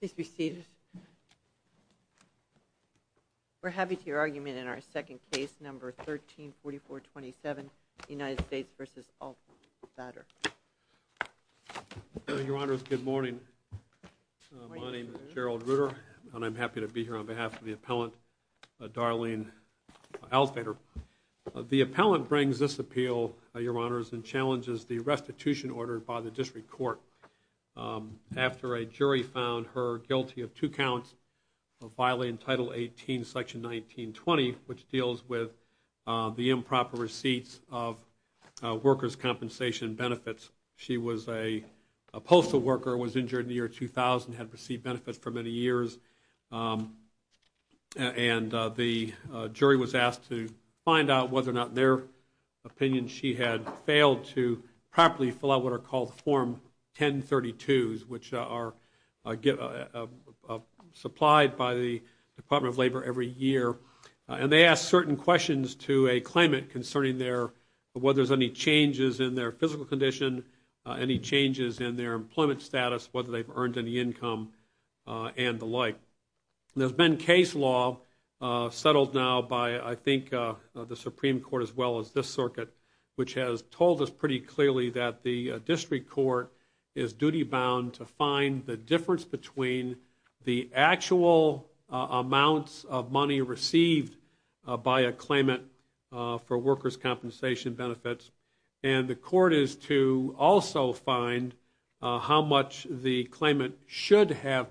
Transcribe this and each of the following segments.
Please be seated. We're happy to hear your argument in our second case, number 134427, United States v. Altvater. Your Honors, good morning. My name is Gerald Rutter and I'm happy to be here on behalf of the appellant, Darlene Altvater. The appellant brings this appeal, Your Honors, and challenges the restitution ordered by the District Court after a jury found her guilty of two counts of violation of Title 18, Section 1920, which deals with the improper receipts of workers' compensation benefits. She was a postal worker, was injured in the year 2000, had received benefits for many years, and the jury was asked to find out whether or not, in their opinion, she had failed to properly fill out what are called Form 1032s, which are supplied by the Department of Labor every year. And they ask certain questions to a claimant concerning whether there's any changes in their physical condition, any changes in their employment status, whether they've earned any income, and the like. There's been case law settled now by, I think, the Supreme Court as well as this circuit, which has told us pretty clearly that the District Court is duty-bound to find the difference between the actual amounts of money received by a claimant for workers' compensation benefits, and the Court is to also find how much the claimant should have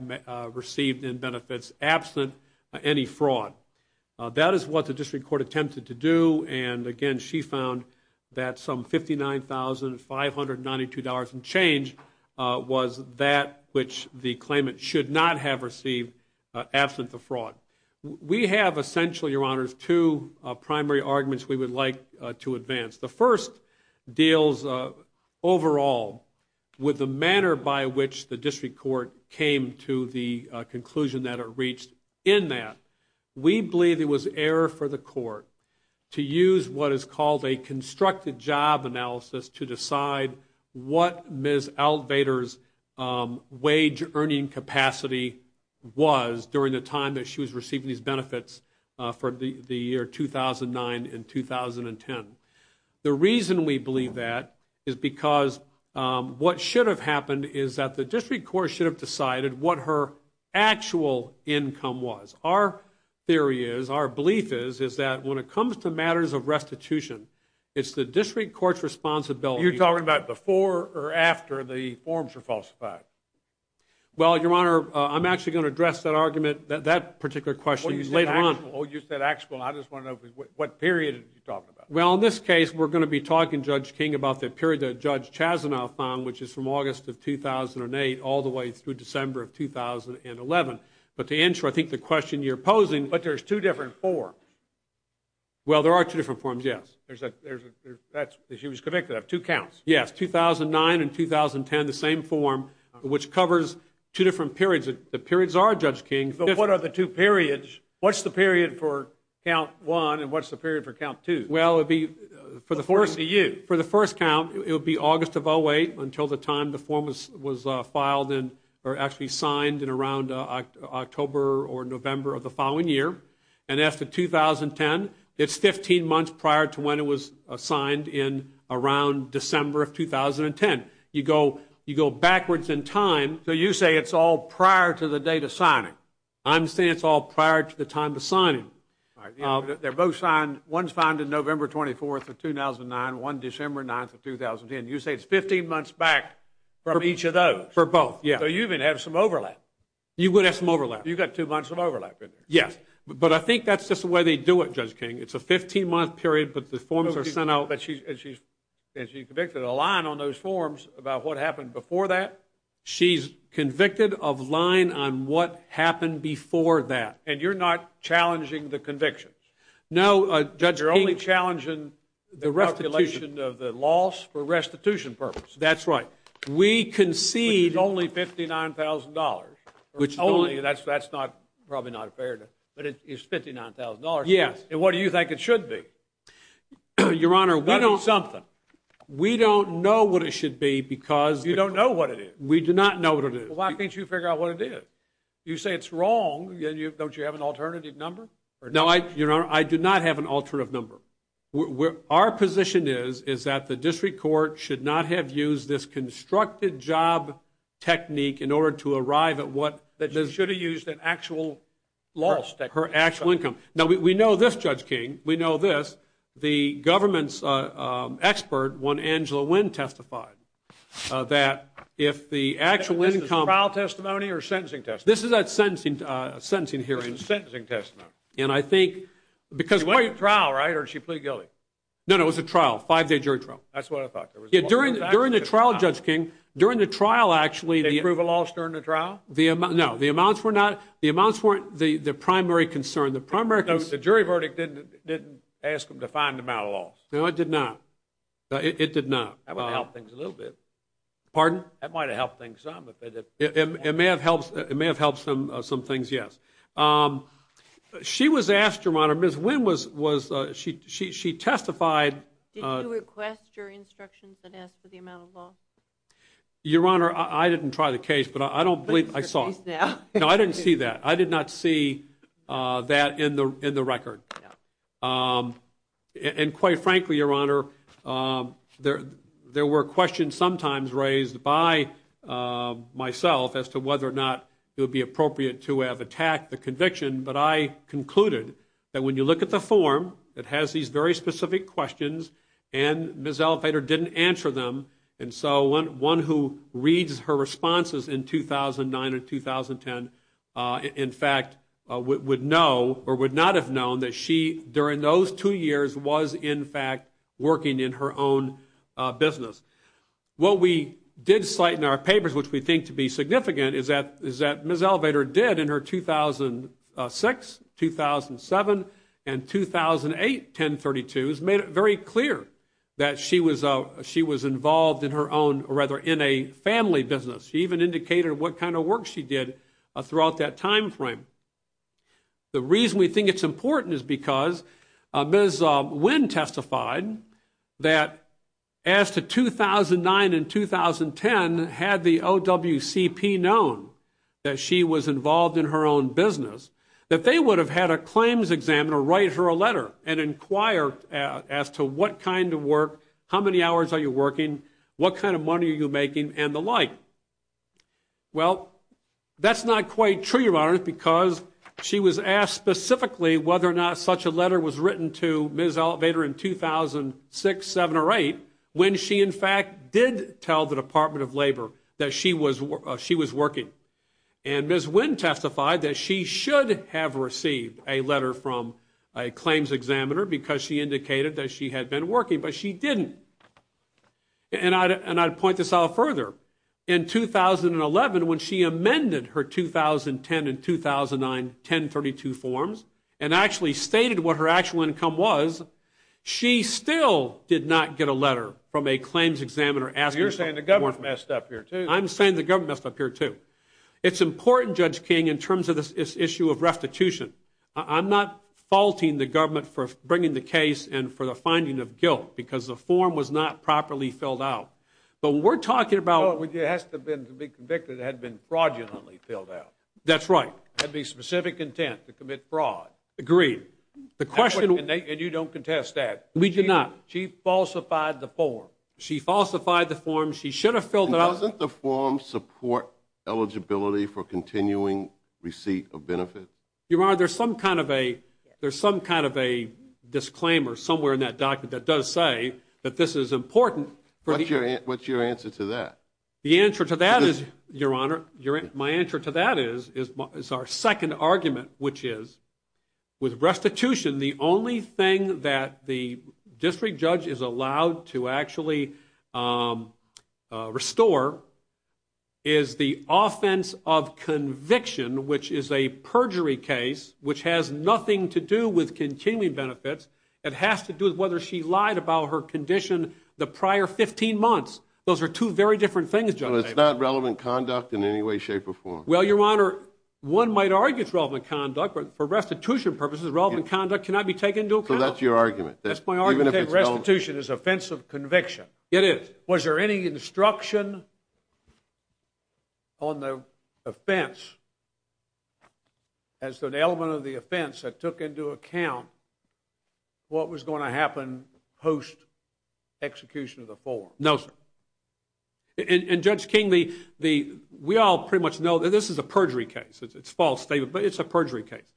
received in benefits absent any fraud. That is what the District Court attempted to do, and again, she found that some $59,592 and change was that which the claimant should not have received absent the fraud. We have essentially, Your Honors, two primary arguments we would like to advance. The first deals overall with the manner by which the District Court came to the conclusion that it reached. In that, we believe it was error for the Court to use what is called a constructed job analysis to decide what Ms. Altvater's wage-earning capacity was during the time that she was The reason we believe that is because what should have happened is that the District Court should have decided what her actual income was. Our theory is, our belief is, is that when it comes to matters of restitution, it's the District Court's responsibility. You're talking about before or after the forms were falsified? Well, Your Honor, I'm actually going to address that argument, that particular question, later on. Oh, you said actual. I just want to know what period are you talking about? Well, in this case, we're going to be talking, Judge King, about the period that Judge Chasanoff found, which is from August of 2008 all the way through December of 2011. But to answer, I think, the question you're posing... But there's two different forms. Well, there are two different forms, yes. She was convicted of two counts. Yes, 2009 and 2010, the same form, which covers two different periods. The periods are, what are the two periods? What's the period for count one and what's the period for count two? Well, for the first count, it would be August of 2008 until the time the form was signed in around October or November of the following year. And after 2010, it's 15 months prior to when it was signed in around December of 2010. You go backwards in time. So you say it's all prior to the date of signing. I'm saying it's all prior to the time of signing. They're both signed. One's found in November 24th of 2009, one December 9th of 2010. You say it's 15 months back from each of those. For both, yeah. So you even have some overlap. You would have some overlap. You've got two months of overlap in there. Yes, but I think that's just the way they do it, Judge King. It's a 15-month period, but the forms are sent out... And she's convicted of lying on those on what happened before that. And you're not challenging the convictions? No, Judge King... You're only challenging the calculation of the loss for restitution purposes. That's right. We concede... Which is only $59,000. That's probably not fair, but it's $59,000. Yes. And what do you think it should be? Your Honor, we don't... We don't know what it should be because... You don't know what it is? We do not know what it is. Well, why can't you figure out what it is? You say it's wrong, then don't you have an alternative number? No, Your Honor, I do not have an alternative number. Our position is that the district court should not have used this constructed job technique in order to arrive at what... That she should have used an actual loss technique. Her actual income. Now, we know this, Judge King. We know this. The government's testified that if the actual income... Is this a trial testimony or sentencing testimony? This is a sentencing hearing. This is a sentencing testimony. And I think... She went to trial, right? Or did she plead guilty? No, no. It was a trial. Five-day jury trial. That's what I thought. During the trial, Judge King, during the trial, actually... Did it prove a loss during the trial? No. The amounts were not... The amounts weren't the primary concern. The primary concern... No, it did not. It did not. That would help things a little bit. Pardon? That might have helped things some. It may have helped some things, yes. She was asked, Your Honor, Ms. Wynn was... She testified... Did you request your instructions that asked for the amount of loss? Your Honor, I didn't try the case, but I don't believe I saw it. No, I didn't see that. I did not see that in the record. And quite frankly, Your Honor, there were questions sometimes raised by myself as to whether or not it would be appropriate to have attacked the conviction, but I concluded that when you look at the form, it has these very specific questions, and Ms. Elevator didn't answer them. And so one who reads her responses in 2009 and 2010, in fact, would know or would not have known that she, during those two years, was, in fact, working in her own business. What we did cite in our papers, which we think to be significant, is that Ms. Elevator did in her 2006, 2007, and 2008 1032s, made it very clear that she was involved in her own, or rather, in a family business. She even indicated what kind of work she did throughout that time frame. The reason we think it's important is because Ms. Wynn testified that as to 2009 and 2010, had the OWCP known that she was involved in her own business, that they would have had a claims examiner write her a letter and inquire as to what kind of work, how many hours are you working, what kind of money are you making, and the like. Well, that's not quite true, Your Honor, because she was asked specifically whether or not such a letter was written to Ms. Elevator in 2006, 2007, or 2008, when she, in fact, did tell the Department of Labor that she was working. And Ms. Wynn testified that she should have received a letter from a claims examiner because she indicated that she had been working, but she didn't. And I'd point this out further. In 2011, when she amended her 2010 and 2009 1032 forms, and actually stated what her actual income was, she still did not get a letter from a claims examiner asking for more money. You're saying the government messed up here, too. I'm saying the government messed up here, too. It's important, Judge King, in terms of this issue of restitution. I'm not faulting the government for bringing the case and for the form was not properly filled out. But we're talking about... Well, it has to have been, to be convicted, it had to have been fraudulently filled out. That's right. Had to be specific intent to commit fraud. Agreed. The question... And you don't contest that. We do not. She falsified the form. She falsified the form. She should have filled it out... And doesn't the form support eligibility for continuing receipt of benefits? Your Honor, there's some kind of a disclaimer somewhere in that document that does say that this is important. What's your answer to that? The answer to that is, Your Honor, my answer to that is our second argument, which is, with restitution, the only thing that the district judge is allowed to actually restore is the offense of conviction, which is a perjury case, which has nothing to do with continuing benefits. It has to do with whether she lied about her condition the prior 15 months. Those are two very different things, Judge. It's not relevant conduct in any way, shape, or form. Well, Your Honor, one might argue it's relevant conduct, but for restitution purposes, relevant conduct cannot be taken into account. So that's your argument. That's my argument. Restitution is offense of conviction. It is. Was there any instruction on the offense as an element of the offense that took into account what was going to happen post-execution of the form? No, sir. And Judge King, we all pretty much know that this is a perjury case. It's false statement, but it's a perjury case.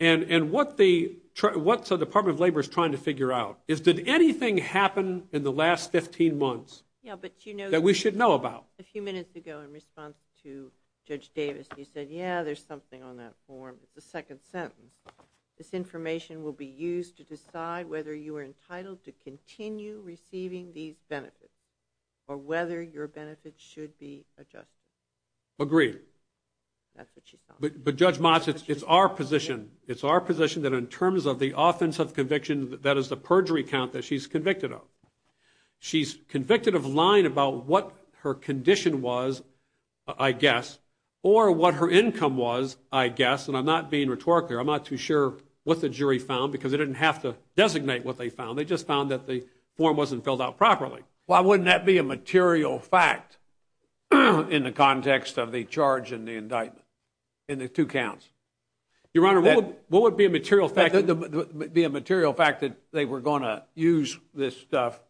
And what the Department of Labor is trying to figure out is, did anything happen in the last 15 months that we should know about? A few minutes ago, in response to Judge Davis, you said, yeah, there's something on that form. It's the second sentence. This information will be used to decide whether you are entitled to continue receiving these benefits or whether your benefits should be adjusted. Agreed. That's what she said. But Judge Motz, it's our position. It's our position that in terms of the offense of conviction, that is the perjury count that she's convicted of. She's convicted of lying about what her condition was, I guess, or what her income was, I guess. And I'm not being rhetorical here. I'm not too sure what the jury found, because they didn't have to designate what they found. They just found that the form wasn't filled out properly. Why wouldn't that be a material fact in the context of the charge and the indictment, in the two counts? Your Honor, what would be a material fact? Be a material fact that they were going to use this stuff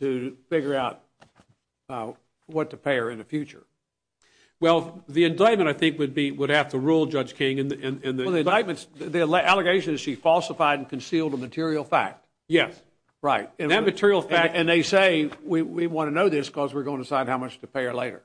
to figure out what to pay her in the future. Well, the indictment, I think, would have to rule, Judge King, in the indictments. The allegation is she falsified and concealed a material fact. Yes. Right. And that material fact. And they say, we want to know this because we're going to decide how much to pay her later.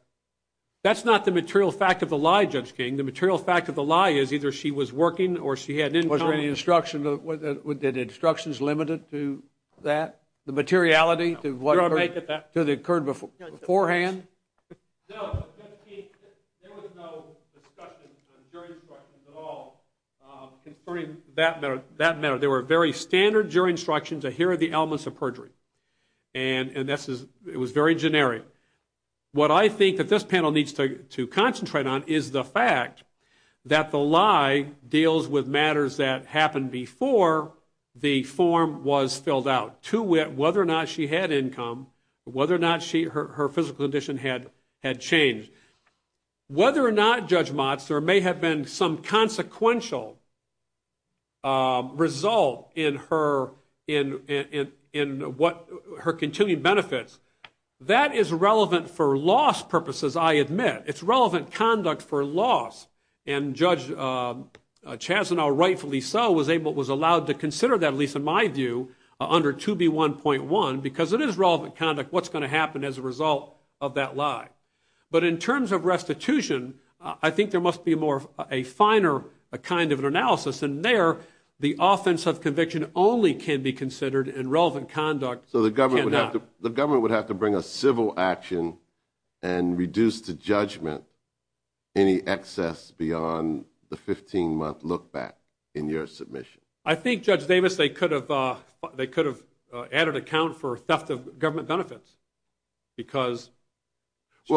That's not the material fact of the lie, Judge King. The material fact of the lie is either she was working or she had an income. Were the instructions limited to that? The materiality to what occurred beforehand? No, Judge King, there was no discussion of jury instructions at all concerning that matter. There were very standard jury instructions that here are the elements of perjury. And it was very generic. What I think that this panel needs to concentrate on is the fact that the lie deals with matters that happened before the form was filled out, whether or not she had income, whether or not her physical condition had changed. Whether or not, Judge Motz, there may have been some consequential result in her continuing benefits, that is relevant for loss purposes, I admit. It's relevant conduct for loss. And Judge Chazanel, rightfully so, was allowed to consider that, at least in my view, under 2B1.1, because it is relevant conduct what's going to happen as a result of that lie. But in terms of restitution, I think there must be more of a finer kind of analysis. And there, the offense of conviction only can be considered and relevant conduct cannot. So the government would have to bring a civil action and reduce the judgment, any excess beyond the 15-month look-back in your submission. I think, Judge Davis, they could have added a count for theft of government benefits, because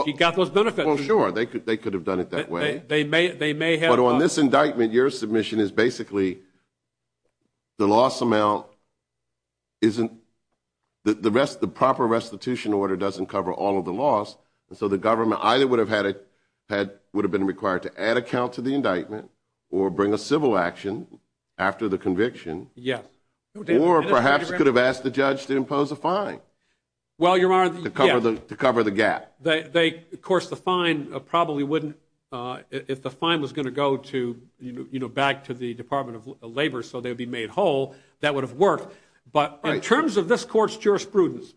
she got those benefits. Well, sure, they could have done it that way. They may have. But on this indictment, your submission is basically the loss amount isn't, the proper restitution order doesn't cover all of the loss. And so the government either would have been required to add a count to the indictment or bring a civil action after the conviction, or perhaps could have asked the judge to impose a fine to cover the gap. Of course, the fine probably wouldn't, if the fine was going to go back to the Department of Labor so they'd be made whole, that would have worked. But in terms of this court's jurisprudence,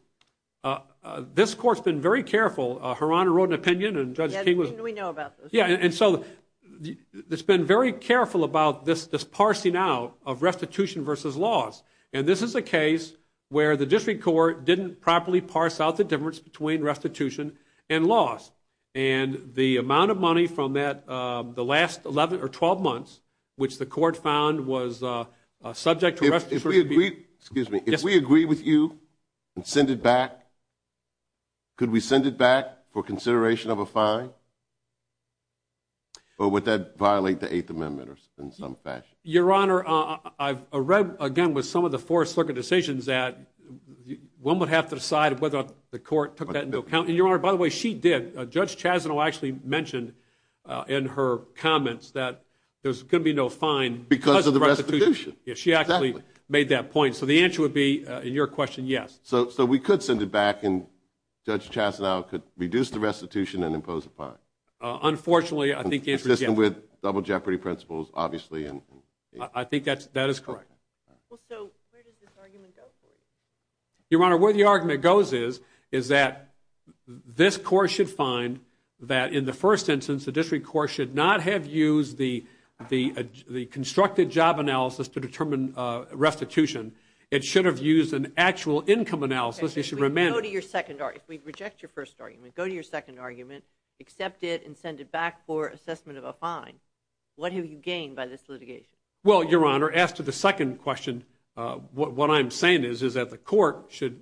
this court's been very careful. Her Honor wrote an opinion, and Judge King was... Didn't we know about this? Yeah, and so it's been very careful about this parsing out of restitution versus loss. And this is a case where the district court didn't properly parse out the difference between restitution and loss. And the amount of money from the last 11 or 12 months, which the court found was subject to restitution... Excuse me, if we agree with you and send it back, could we send it back for consideration of a fine, or would that violate the Eighth Amendment in some fashion? Your Honor, I've read again with some of the Fourth Circuit decisions that one would have to decide whether the court took that into account. And Your Honor, by the way, she did. Judge Chasno actually mentioned in her comments that there's going to be no fine... Because of the restitution. Yes, she actually made that point. So the answer would be, in your question, yes. So we could send it back, and Judge Chasno could reduce the restitution and impose a fine? Unfortunately, I think the answer is yes. Assisted with double jeopardy principles, obviously. I think that is correct. Well, so where does this argument go for you? Your Honor, where the argument goes is that this court should find that in the first instance, the district court should not have used the constructed job analysis to determine restitution. It should have used an actual income analysis. If we go to your second argument, if we reject your first argument, go to your second argument, accept it, and send it back for assessment of a fine, what have you gained by this litigation? Well, Your Honor, as to the second question, what I'm saying is that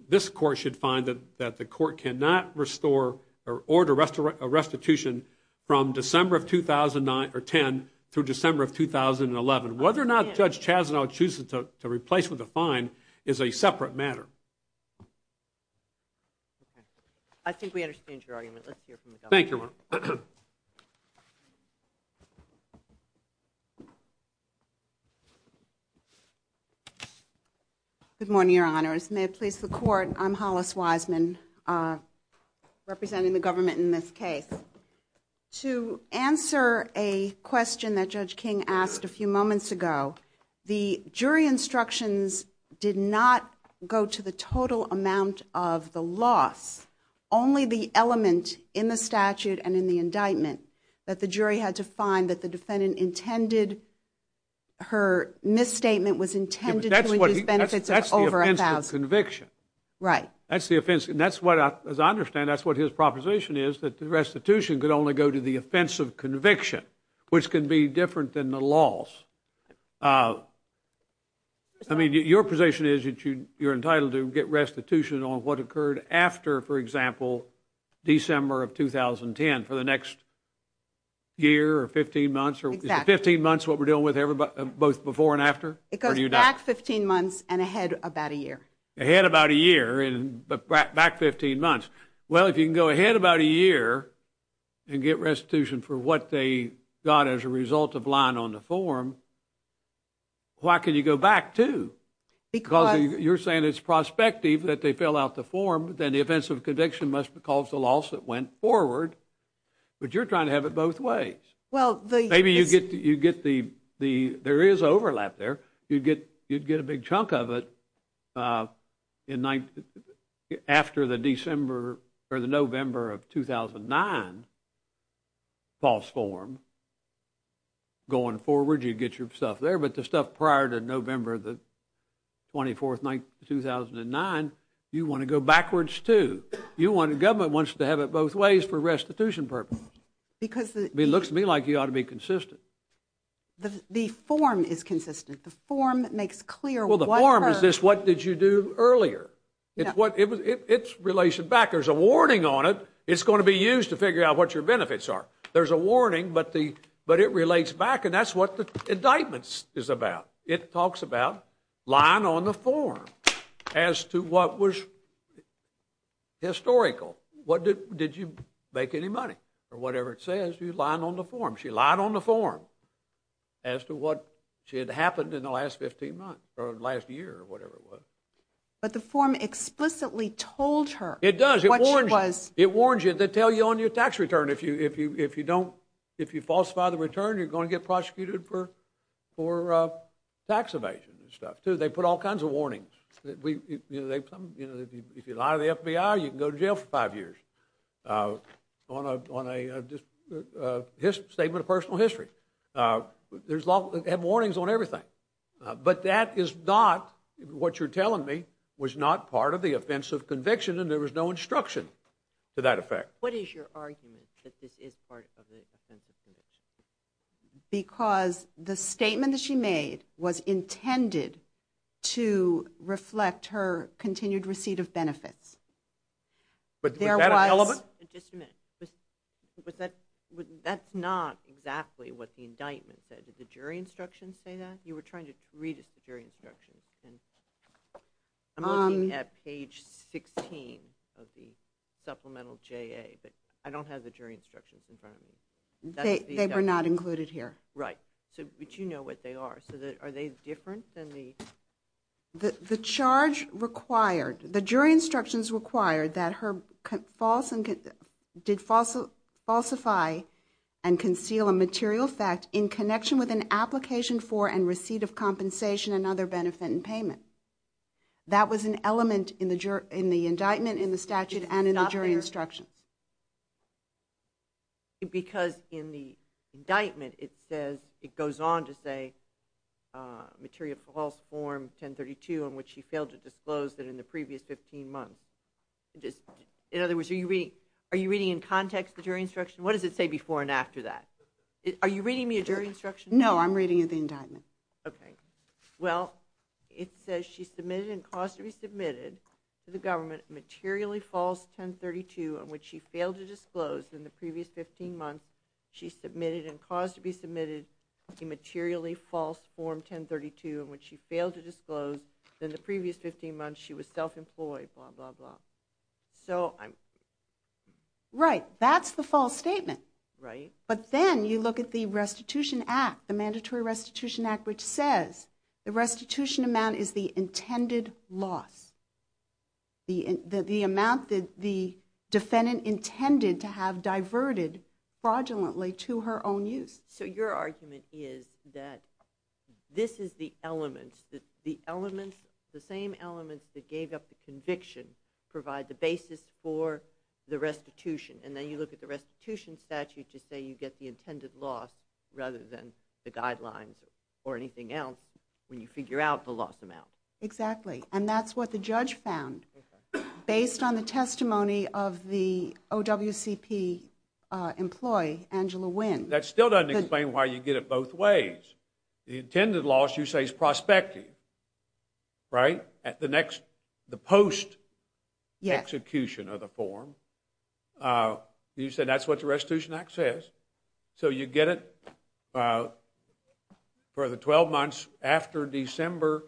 this court should find that the court cannot restore or order a restitution from December of 2010 through December of 2011. Whether or not Judge Chasno chooses to replace with a fine is a separate matter. I think we understand your argument. Let's hear from the government. Thank you. Good morning, Your Honors. May it please the Court. I'm Hollis Wiseman, representing the government in this case. To answer a question that Judge King asked a few moments ago, the jury instructions did not go to the total amount of the loss, only the element in the statute and in the indictment that the jury had to find that the defendant intended her misstatement was intended to reduce benefits of over $1,000. Right. That's the offense. And that's what, as I understand, that's what his proposition is, that the restitution could only go to the offense of conviction, which can be different than the loss. I mean, your position is that you're entitled to get restitution on what occurred after, for example, December of 2010 for the next year or 15 months? Exactly. Is the 15 months what we're dealing with both before and after? It goes back 15 months and ahead about a year. Ahead about a year and back 15 months. Well, if you can go ahead about a year and get restitution for what they got as a result of lying on the form, why can't you go back, too? Because you're saying it's prospective that they fill out the form, then the offense of conviction must be called the loss that went forward. But you're trying to have it both ways. Well, the— Maybe you get the—there is overlap there. You'd get a big chunk of it after the December or the November of 2009 false form. Going forward, you'd get your stuff there. But the stuff prior to November the 24th, 2009, you want to go backwards, too. You want—the government wants to have it both ways for restitution purposes. Because— It looks to me like you ought to be consistent. The form is consistent. The form makes clear what— Well, the form is this, what did you do earlier? It's what—it's relation back. There's a warning on it. It's going to be used to figure out what your benefits are. There's a warning, but the—but it relates back. And that's what the indictment is about. It talks about lying on the form as to what was historical. What did—did you make any money? Or whatever it says, you're lying on the form. She lied on the form as to what had happened in the last 15 months or last year or whatever it was. But the form explicitly told her— It does. —what she was— It warns you. They tell you on your tax return if you don't—if you falsify the return, you're going to get prosecuted for tax evasion and stuff, too. They put all kinds of warnings. We—you know, they—if you lie to the FBI, you can go to jail for five years. On a—on a statement of personal history, there's a lot—they have warnings on everything. But that is not what you're telling me was not part of the offense of conviction, and there was no instruction to that effect. What is your argument that this is part of the offense of conviction? Because the statement that she made was intended to reflect her continued receipt of benefits. But there was— Was that an element? Just a minute. Was that—that's not exactly what the indictment said. Did the jury instructions say that? You were trying to read the jury instructions, and I'm looking at page 16 of the Supplemental JA, but I don't have the jury instructions in front of me. They were not included here. Right. So, but you know what they are. So, are they different than the— The charge required— The jury instructions required that her false—did falsify and conceal a material fact in connection with an application for and receipt of compensation and other benefit and payment. That was an element in the jury—in the indictment, in the statute, and in the jury instructions. Because in the indictment, it says—it goes on to say, material false form 1032 on which she failed to disclose that in the previous 15 months. In other words, are you reading in context the jury instruction? What does it say before and after that? Are you reading me a jury instruction? No, I'm reading you the indictment. Okay. Well, it says she submitted and caused to be submitted to the government a materially false 1032 on which she failed to disclose in the previous 15 months. She submitted and caused to be submitted a materially false form 1032 on which she failed to disclose in the previous 15 months. She was self-employed, blah, blah, blah. So, I'm— Right. That's the false statement. Right. But then you look at the restitution act, the mandatory restitution act, which says the restitution amount is the intended loss. The amount that the defendant intended to have diverted fraudulently to her own use. So, your argument is that this is the elements, the elements, the same elements that gave up the conviction provide the basis for the restitution. And then you look at the restitution statute to say you get the intended loss rather than the guidelines or anything else when you figure out the loss amount. Exactly. And that's what the judge found based on the testimony of the OWCP employee, Angela Wynn. That still doesn't explain why you get it both ways. The intended loss you say is prospective, right? At the next, the post-execution of the form. You said that's what the restitution act says. So, you get it for the 12 months after December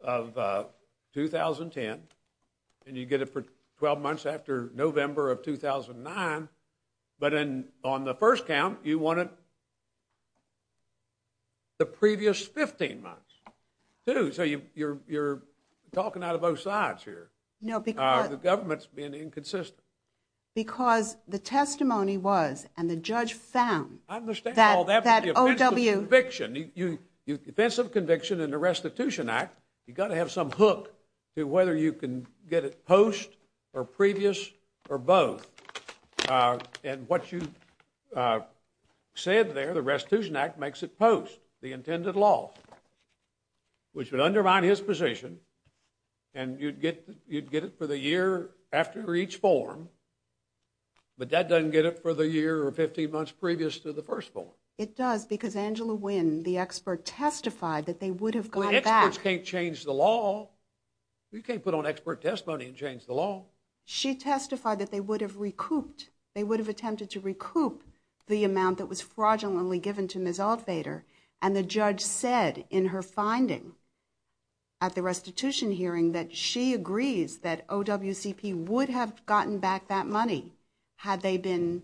of 2010, and you get it for 12 months after November of 2009, but then on the first count, you want it the previous 15 months, too. So, you're talking out of both sides here. No, because— The government's being inconsistent. Because the testimony was, and the judge found— I understand all that, but the offensive conviction in the restitution act, you've got to have some hook to whether you can get it post or previous or both. And what you said there, the restitution act makes it post, the intended loss, which would have been, but that doesn't get it for the year or 15 months previous to the first form. It does, because Angela Wynn, the expert, testified that they would have gotten back— Well, experts can't change the law. You can't put on expert testimony and change the law. She testified that they would have recouped, they would have attempted to recoup the amount that was fraudulently given to Ms. Altvader, and the judge said in her finding at the restitution hearing that she agrees that OWCP would have gotten back that money had they been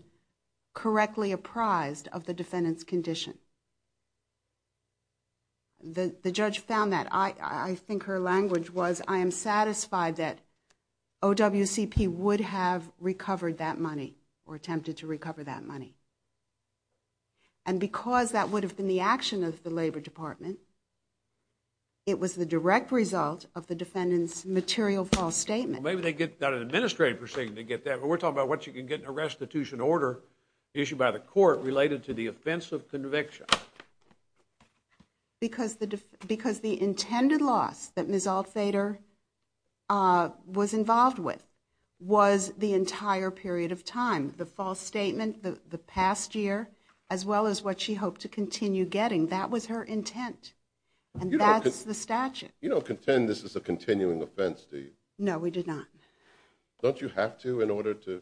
correctly apprised of the defendant's condition. The judge found that. I think her language was, I am satisfied that OWCP would have recovered that money or attempted to recover that money. And because that would have been the action of the Labor Department, it was the direct result of the defendant's material false statement. Well, maybe they get that at an administrative proceeding, they get that, but we're talking about what you can get in a restitution order issued by the court related to the offense of conviction. Because the intended loss that Ms. Altvader was involved with was the entire period of time. The false statement, the past year, as well as what she hoped to continue getting, that was her intent. And that's the statute. You don't contend this is a continuing offense, do you? No, we did not. Don't you have to in order to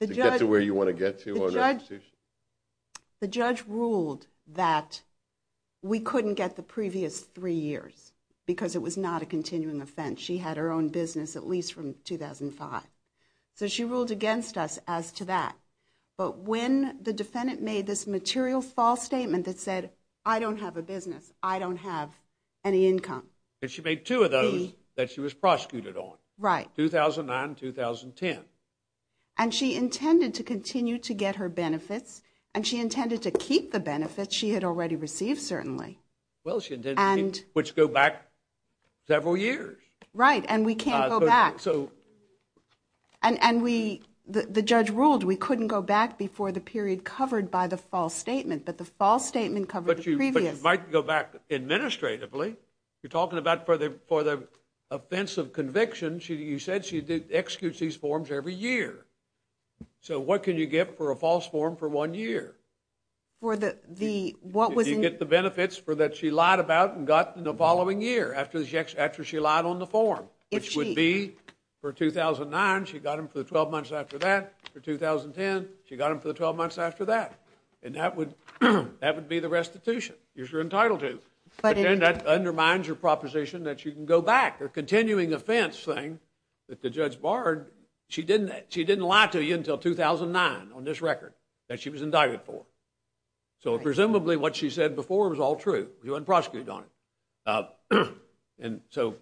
get to where you want to get to on a restitution? The judge ruled that we couldn't get the previous three years because it was not a continuing offense. She had her own business at least from 2005. So she ruled against us as to that. But when the defendant made this material false statement that said, I don't have a any income. And she made two of those that she was prosecuted on. Right. 2009, 2010. And she intended to continue to get her benefits, and she intended to keep the benefits she had already received, certainly. Well, she intended to keep, which go back several years. Right, and we can't go back. And the judge ruled we couldn't go back before the period covered by the false statement, but the false statement covered the previous. But you might go back administratively. You're talking about for the offense of conviction, you said she executes these forms every year. So what can you get for a false form for one year? For the, what was in. You get the benefits for that she lied about and got in the following year after she lied on the form. Which would be for 2009, she got them for the 12 months after that. For 2010, she got them for the 12 months after that. And that would be the restitution you're entitled to. But then that undermines your proposition that you can go back. The continuing offense thing that the judge barred, she didn't lie to you until 2009 on this record that she was indicted for. So presumably what she said before was all true. She wasn't prosecuted on it. And so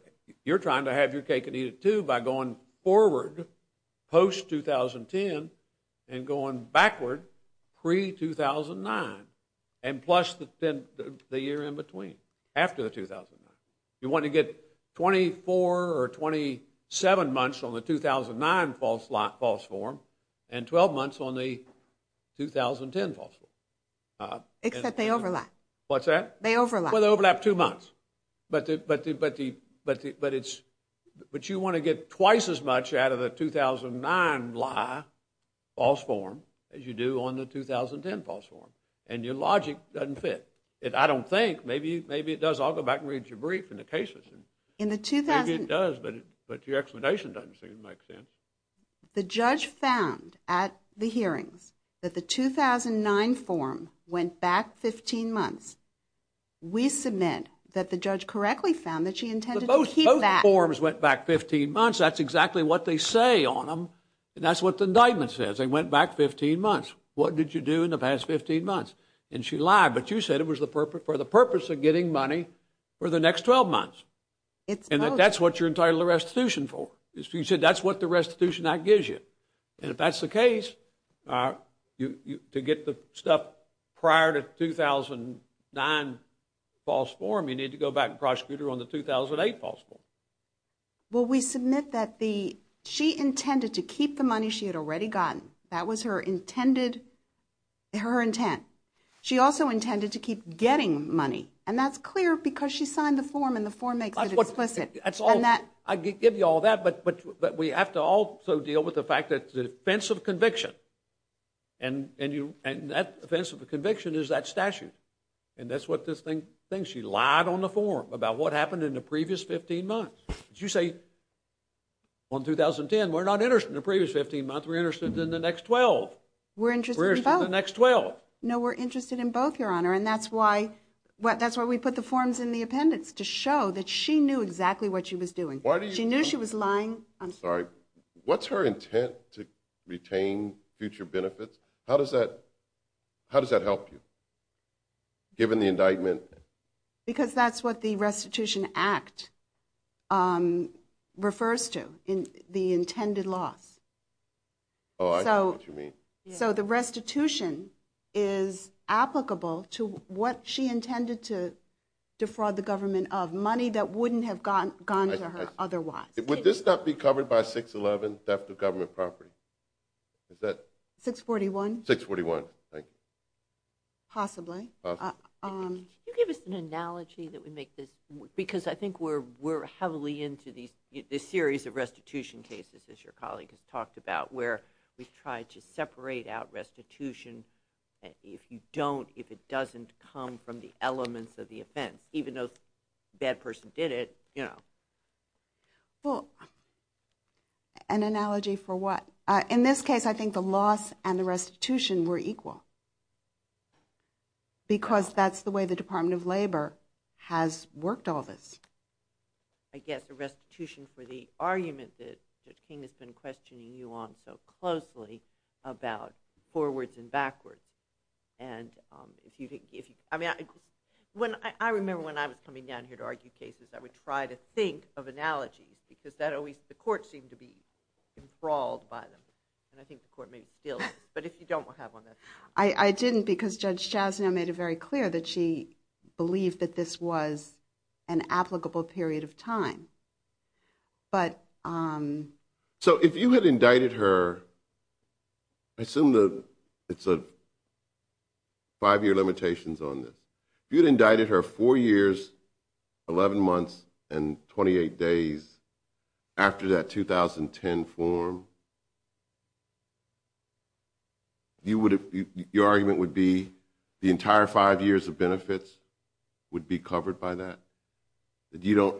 you're trying to have your cake and eat it too by going forward post-2010 and going backward pre-2009 and plus the year in between, after the 2009. You want to get 24 or 27 months on the 2009 false form and 12 months on the 2010 false form. Except they overlap. What's that? They overlap. Well, they overlap two months. But you want to get twice as much out of the 2009 lie false form as you do on the 2010 false form. And your logic doesn't fit. I don't think. Maybe it does. I'll go back and read your brief and the cases. And maybe it does, but your explanation doesn't seem to make sense. The judge found at the hearings that the 2009 form went back 15 months. We submit that the judge correctly found that she intended to keep that. Both forms went back 15 months. That's exactly what they say on them. And that's what the indictment says. They went back 15 months. What did you do in the past 15 months? And she lied. But you said it was for the purpose of getting money for the next 12 months. And that's what you're entitled to restitution for. You said that's what the Restitution Act gives you. And if that's the case, to get the stuff prior to the 2009 false form, you need to go back and prosecute her on the 2008 false form. Well, we submit that she intended to keep the money she had already gotten. That was her intended, her intent. She also intended to keep getting money. And that's clear because she signed the form and the form makes it explicit. I give you all that. But we have to also deal with the fact that the offense of conviction is that statute. And that's what this thing thinks. She lied on the form about what happened in the previous 15 months. You say, on 2010, we're not interested in the previous 15 months. We're interested in the next 12. We're interested in both. We're interested in the next 12. No, we're interested in both, Your Honor. And that's why we put the forms in the appendix, to show that she knew exactly what she was doing. She knew she was lying. I'm sorry. What's her intent to retain future benefits? How does that help you, given the indictment? Because that's what the Restitution Act refers to, the intended loss. Oh, I see what you mean. So the restitution is applicable to what she intended to defraud the government of, money that wouldn't have gone to her. Would this not be covered by 611, theft of government property? Is that? 641. 641, thank you. Possibly. Can you give us an analogy that would make this? Because I think we're heavily into this series of restitution cases, as your colleague has talked about, where we've tried to separate out restitution. If you don't, if it doesn't come from the elements of the offense, even though the bad person did it, you know. Well, an analogy for what? In this case, I think the loss and the restitution were equal. Because that's the way the Department of Labor has worked all this. I guess the restitution for the argument that Judge King has been questioning you on so closely, about forwards and backwards. And I remember when I was coming down here to argue cases, I would try to think of analogies. Because the court seemed to be enthralled by them. And I think the court maybe still is. But if you don't, we'll have on that. I didn't, because Judge Chasnow made it very clear that she believed that this was an applicable period of time. So if you had indicted her, I assume that it's a five-year limitations on this. If you'd indicted her four years, 11 months, and 28 days after that 2010 form, you would have, your argument would be, the entire five years of benefits would be covered by that. That you don't,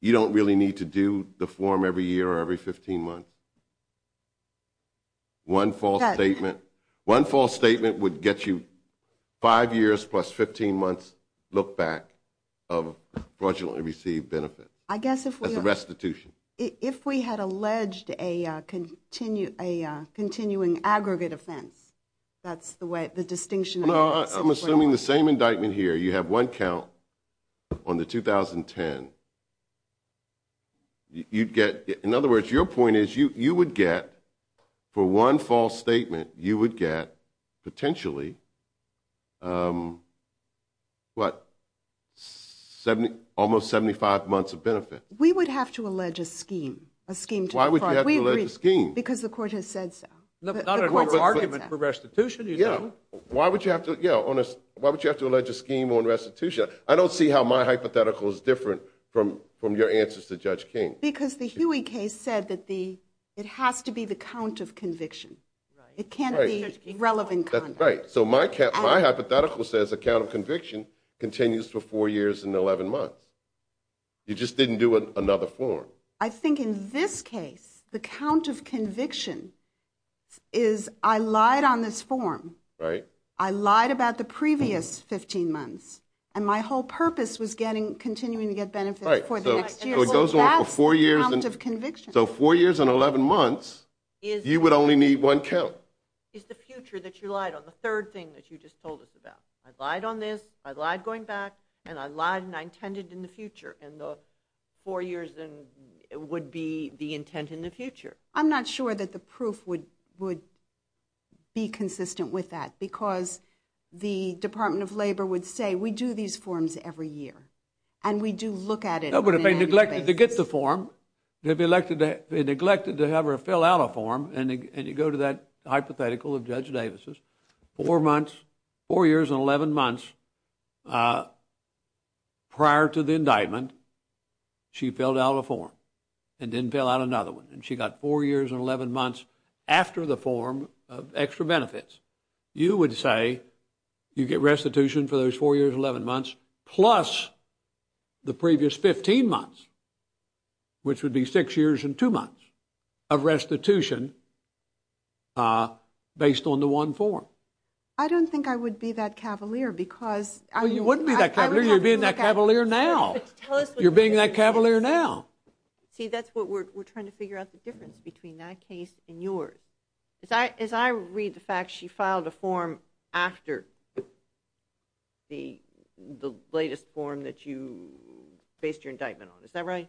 you don't really need to do the form every year or every 15 months. One false statement, one false statement would get you five years plus 15 months look back of fraudulently received benefits. I guess if we had... As a restitution. If we had alleged a continuing aggregate offense, that's the way, the distinction. No, I'm assuming the same indictment here. You have one count on the 2010, you'd get, in other words, your point is, you would get, for one false statement, you would get potentially, what, 70, almost 75 months of benefit. We would have to allege a scheme, a scheme. Why would you have to allege a scheme? Because the court has said so. Not an argument for restitution, you know. Why would you have to, yeah, why would you have to allege a scheme on restitution? I don't see how my hypothetical is different from your answers to Judge King. Because the Huey case said that the, it has to be the count of conviction. It can't be relevant conduct. Right, so my hypothetical says a count of conviction continues for four years and 11 months. You just didn't do another form. I think in this case, the count of conviction is, I lied on this form. Right. I lied about the previous 15 months and my whole purpose was getting, continuing to get benefits for the next year. So it goes on for four years. So that's the count of conviction. So four years and 11 months, you would only need one count. It's the future that you lied on, the third thing that you just told us about. I lied on this, I lied going back, and I lied and I intended in the future. And the four years would be the intent in the future. I'm not sure that the proof would be consistent with that. Because the Department of Labor would say, we do these forms every year. And we do look at it. But if they neglected to get the form, if they neglected to have her fill out a form, and you go to that hypothetical of Judge Davis's, four months, four years and 11 months prior to the indictment, she filled out a form and didn't fill out another one. And she got four years and 11 months after the form of extra benefits. You would say you get restitution for those four years, 11 months, plus the previous 15 months, which would be six years and two months of restitution based on the one form. I don't think I would be that cavalier, because- Well, you wouldn't be that cavalier. You're being that cavalier now. You're being that cavalier now. See, that's what we're trying to figure out, the difference between that case and yours. As I read the fact, she filed a form after the latest form that you based your indictment on. Is that right?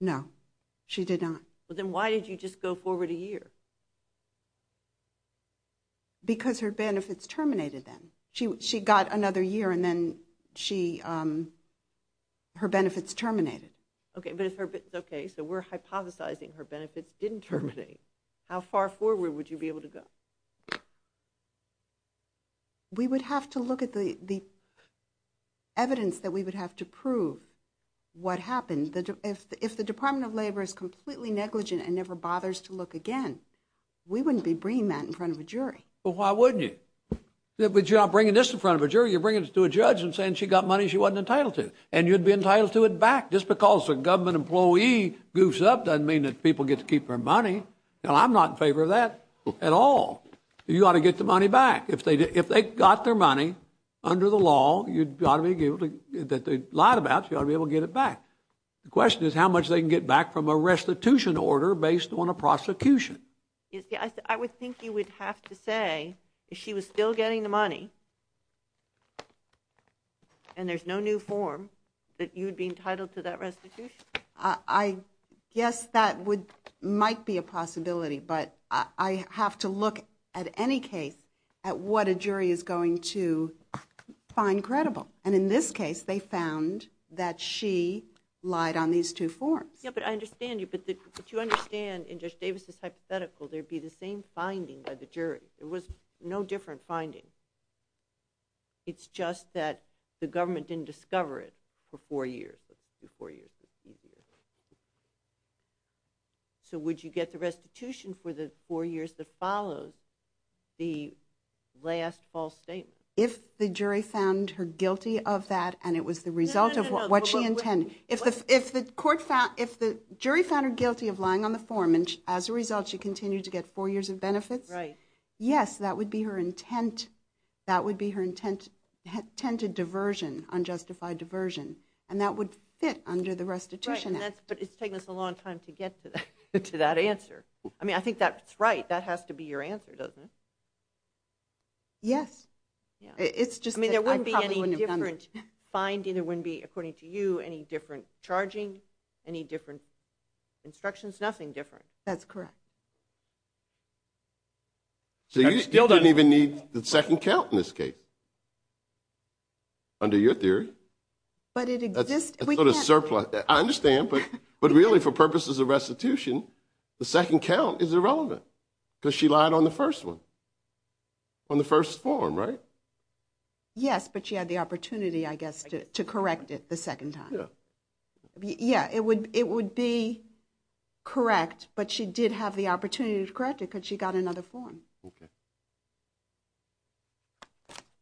No, she did not. Well, then why did you just go forward a year? Because her benefits terminated then. She got another year, and then her benefits terminated. OK, but it's OK. So we're hypothesizing her benefits didn't terminate. How far forward would you be able to go? We would have to look at the evidence that we would have to prove what happened. If the Department of Labor is completely negligent and never bothers to look again, we wouldn't be bringing that in front of a jury. Well, why wouldn't you? But you're not bringing this in front of a jury. You're bringing it to a judge and saying she got money she wasn't entitled to. And you'd be entitled to it back. Just because a government employee goofs up doesn't mean that people get to keep their money. Now, I'm not in favor of that at all. You ought to get the money back. If they got their money under the law that they lied about, you ought to be able to get it back. The question is how much they can get back from a restitution order based on a prosecution. I would think you would have to say if she was still getting the money and there's no new form that you'd be entitled to that restitution. I guess that would might be a possibility. But I have to look at any case at what a jury is going to find credible. And in this case, they found that she lied on these two forms. Yeah, but I understand you. But you understand in Judge Davis's hypothetical, there'd be the same finding by the jury. It was no different finding. It's just that the government didn't discover it for four years. It was four years. It's easier. So would you get the restitution for the four years that follows the last false statement? If the jury found her guilty of that and it was the result of what she intended. If the jury found her guilty of lying on the form and as a result, she continued to get four years of benefits. Right. Yes, that would be her intent. That would be her intent to diversion, unjustified diversion. And that would fit under the restitution act. But it's taken us a long time to get to that answer. I mean, I think that's right. That has to be your answer, doesn't it? Yes. It's just, I mean, there wouldn't be any different finding. There wouldn't be, according to you, any different charging, any different instructions, nothing different. That's correct. So you still don't even need the second count in this case. Under your theory, but it exists, we got a surplus. I understand. But but really for purposes of restitution, the second count is irrelevant because she lied on the first one, on the first form, right? Yes, but she had the opportunity, I guess, to correct it the second time. Yeah, it would it would be correct. But she did have the opportunity to correct it because she got another form.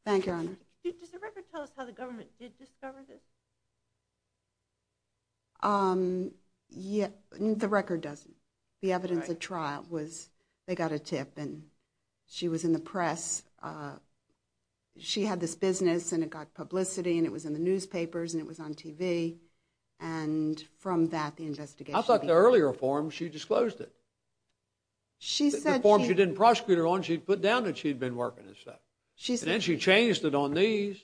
Thank you. Does the record tell us how the government did discover this? Yeah, the record doesn't. The evidence of trial was they got a tip and she was in the press. She had this business and it got publicity and it was in the newspapers and it was on TV. And from that, the investigation. I thought the earlier form, she disclosed it. She said she didn't prosecute her on. She put down that she'd been working and stuff. She said she changed it on these.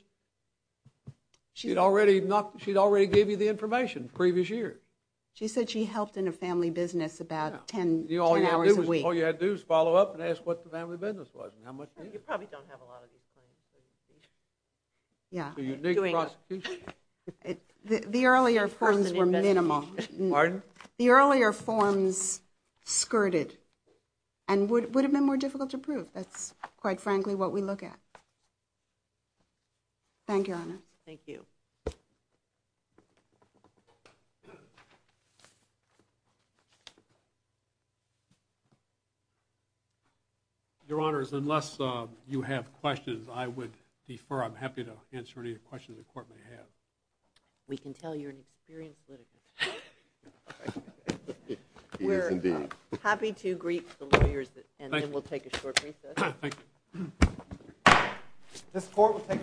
She's already not. She'd already gave you the information previous year. She said she helped in a family business about 10 hours a week. All you had to do is follow up and ask what the family business was and how much. You probably don't have a lot of. Yeah, you're doing. The earlier forms were minimal. The earlier forms skirted and would have been more difficult to prove. That's quite frankly what we look at. Thank you. Thank you. Your honors, unless you have questions, I would defer. I'm happy to answer any questions the court may have. We can tell you're an experienced litigant. We're happy to greet the lawyers, and then we'll take a short recess. This court will take a brief recess.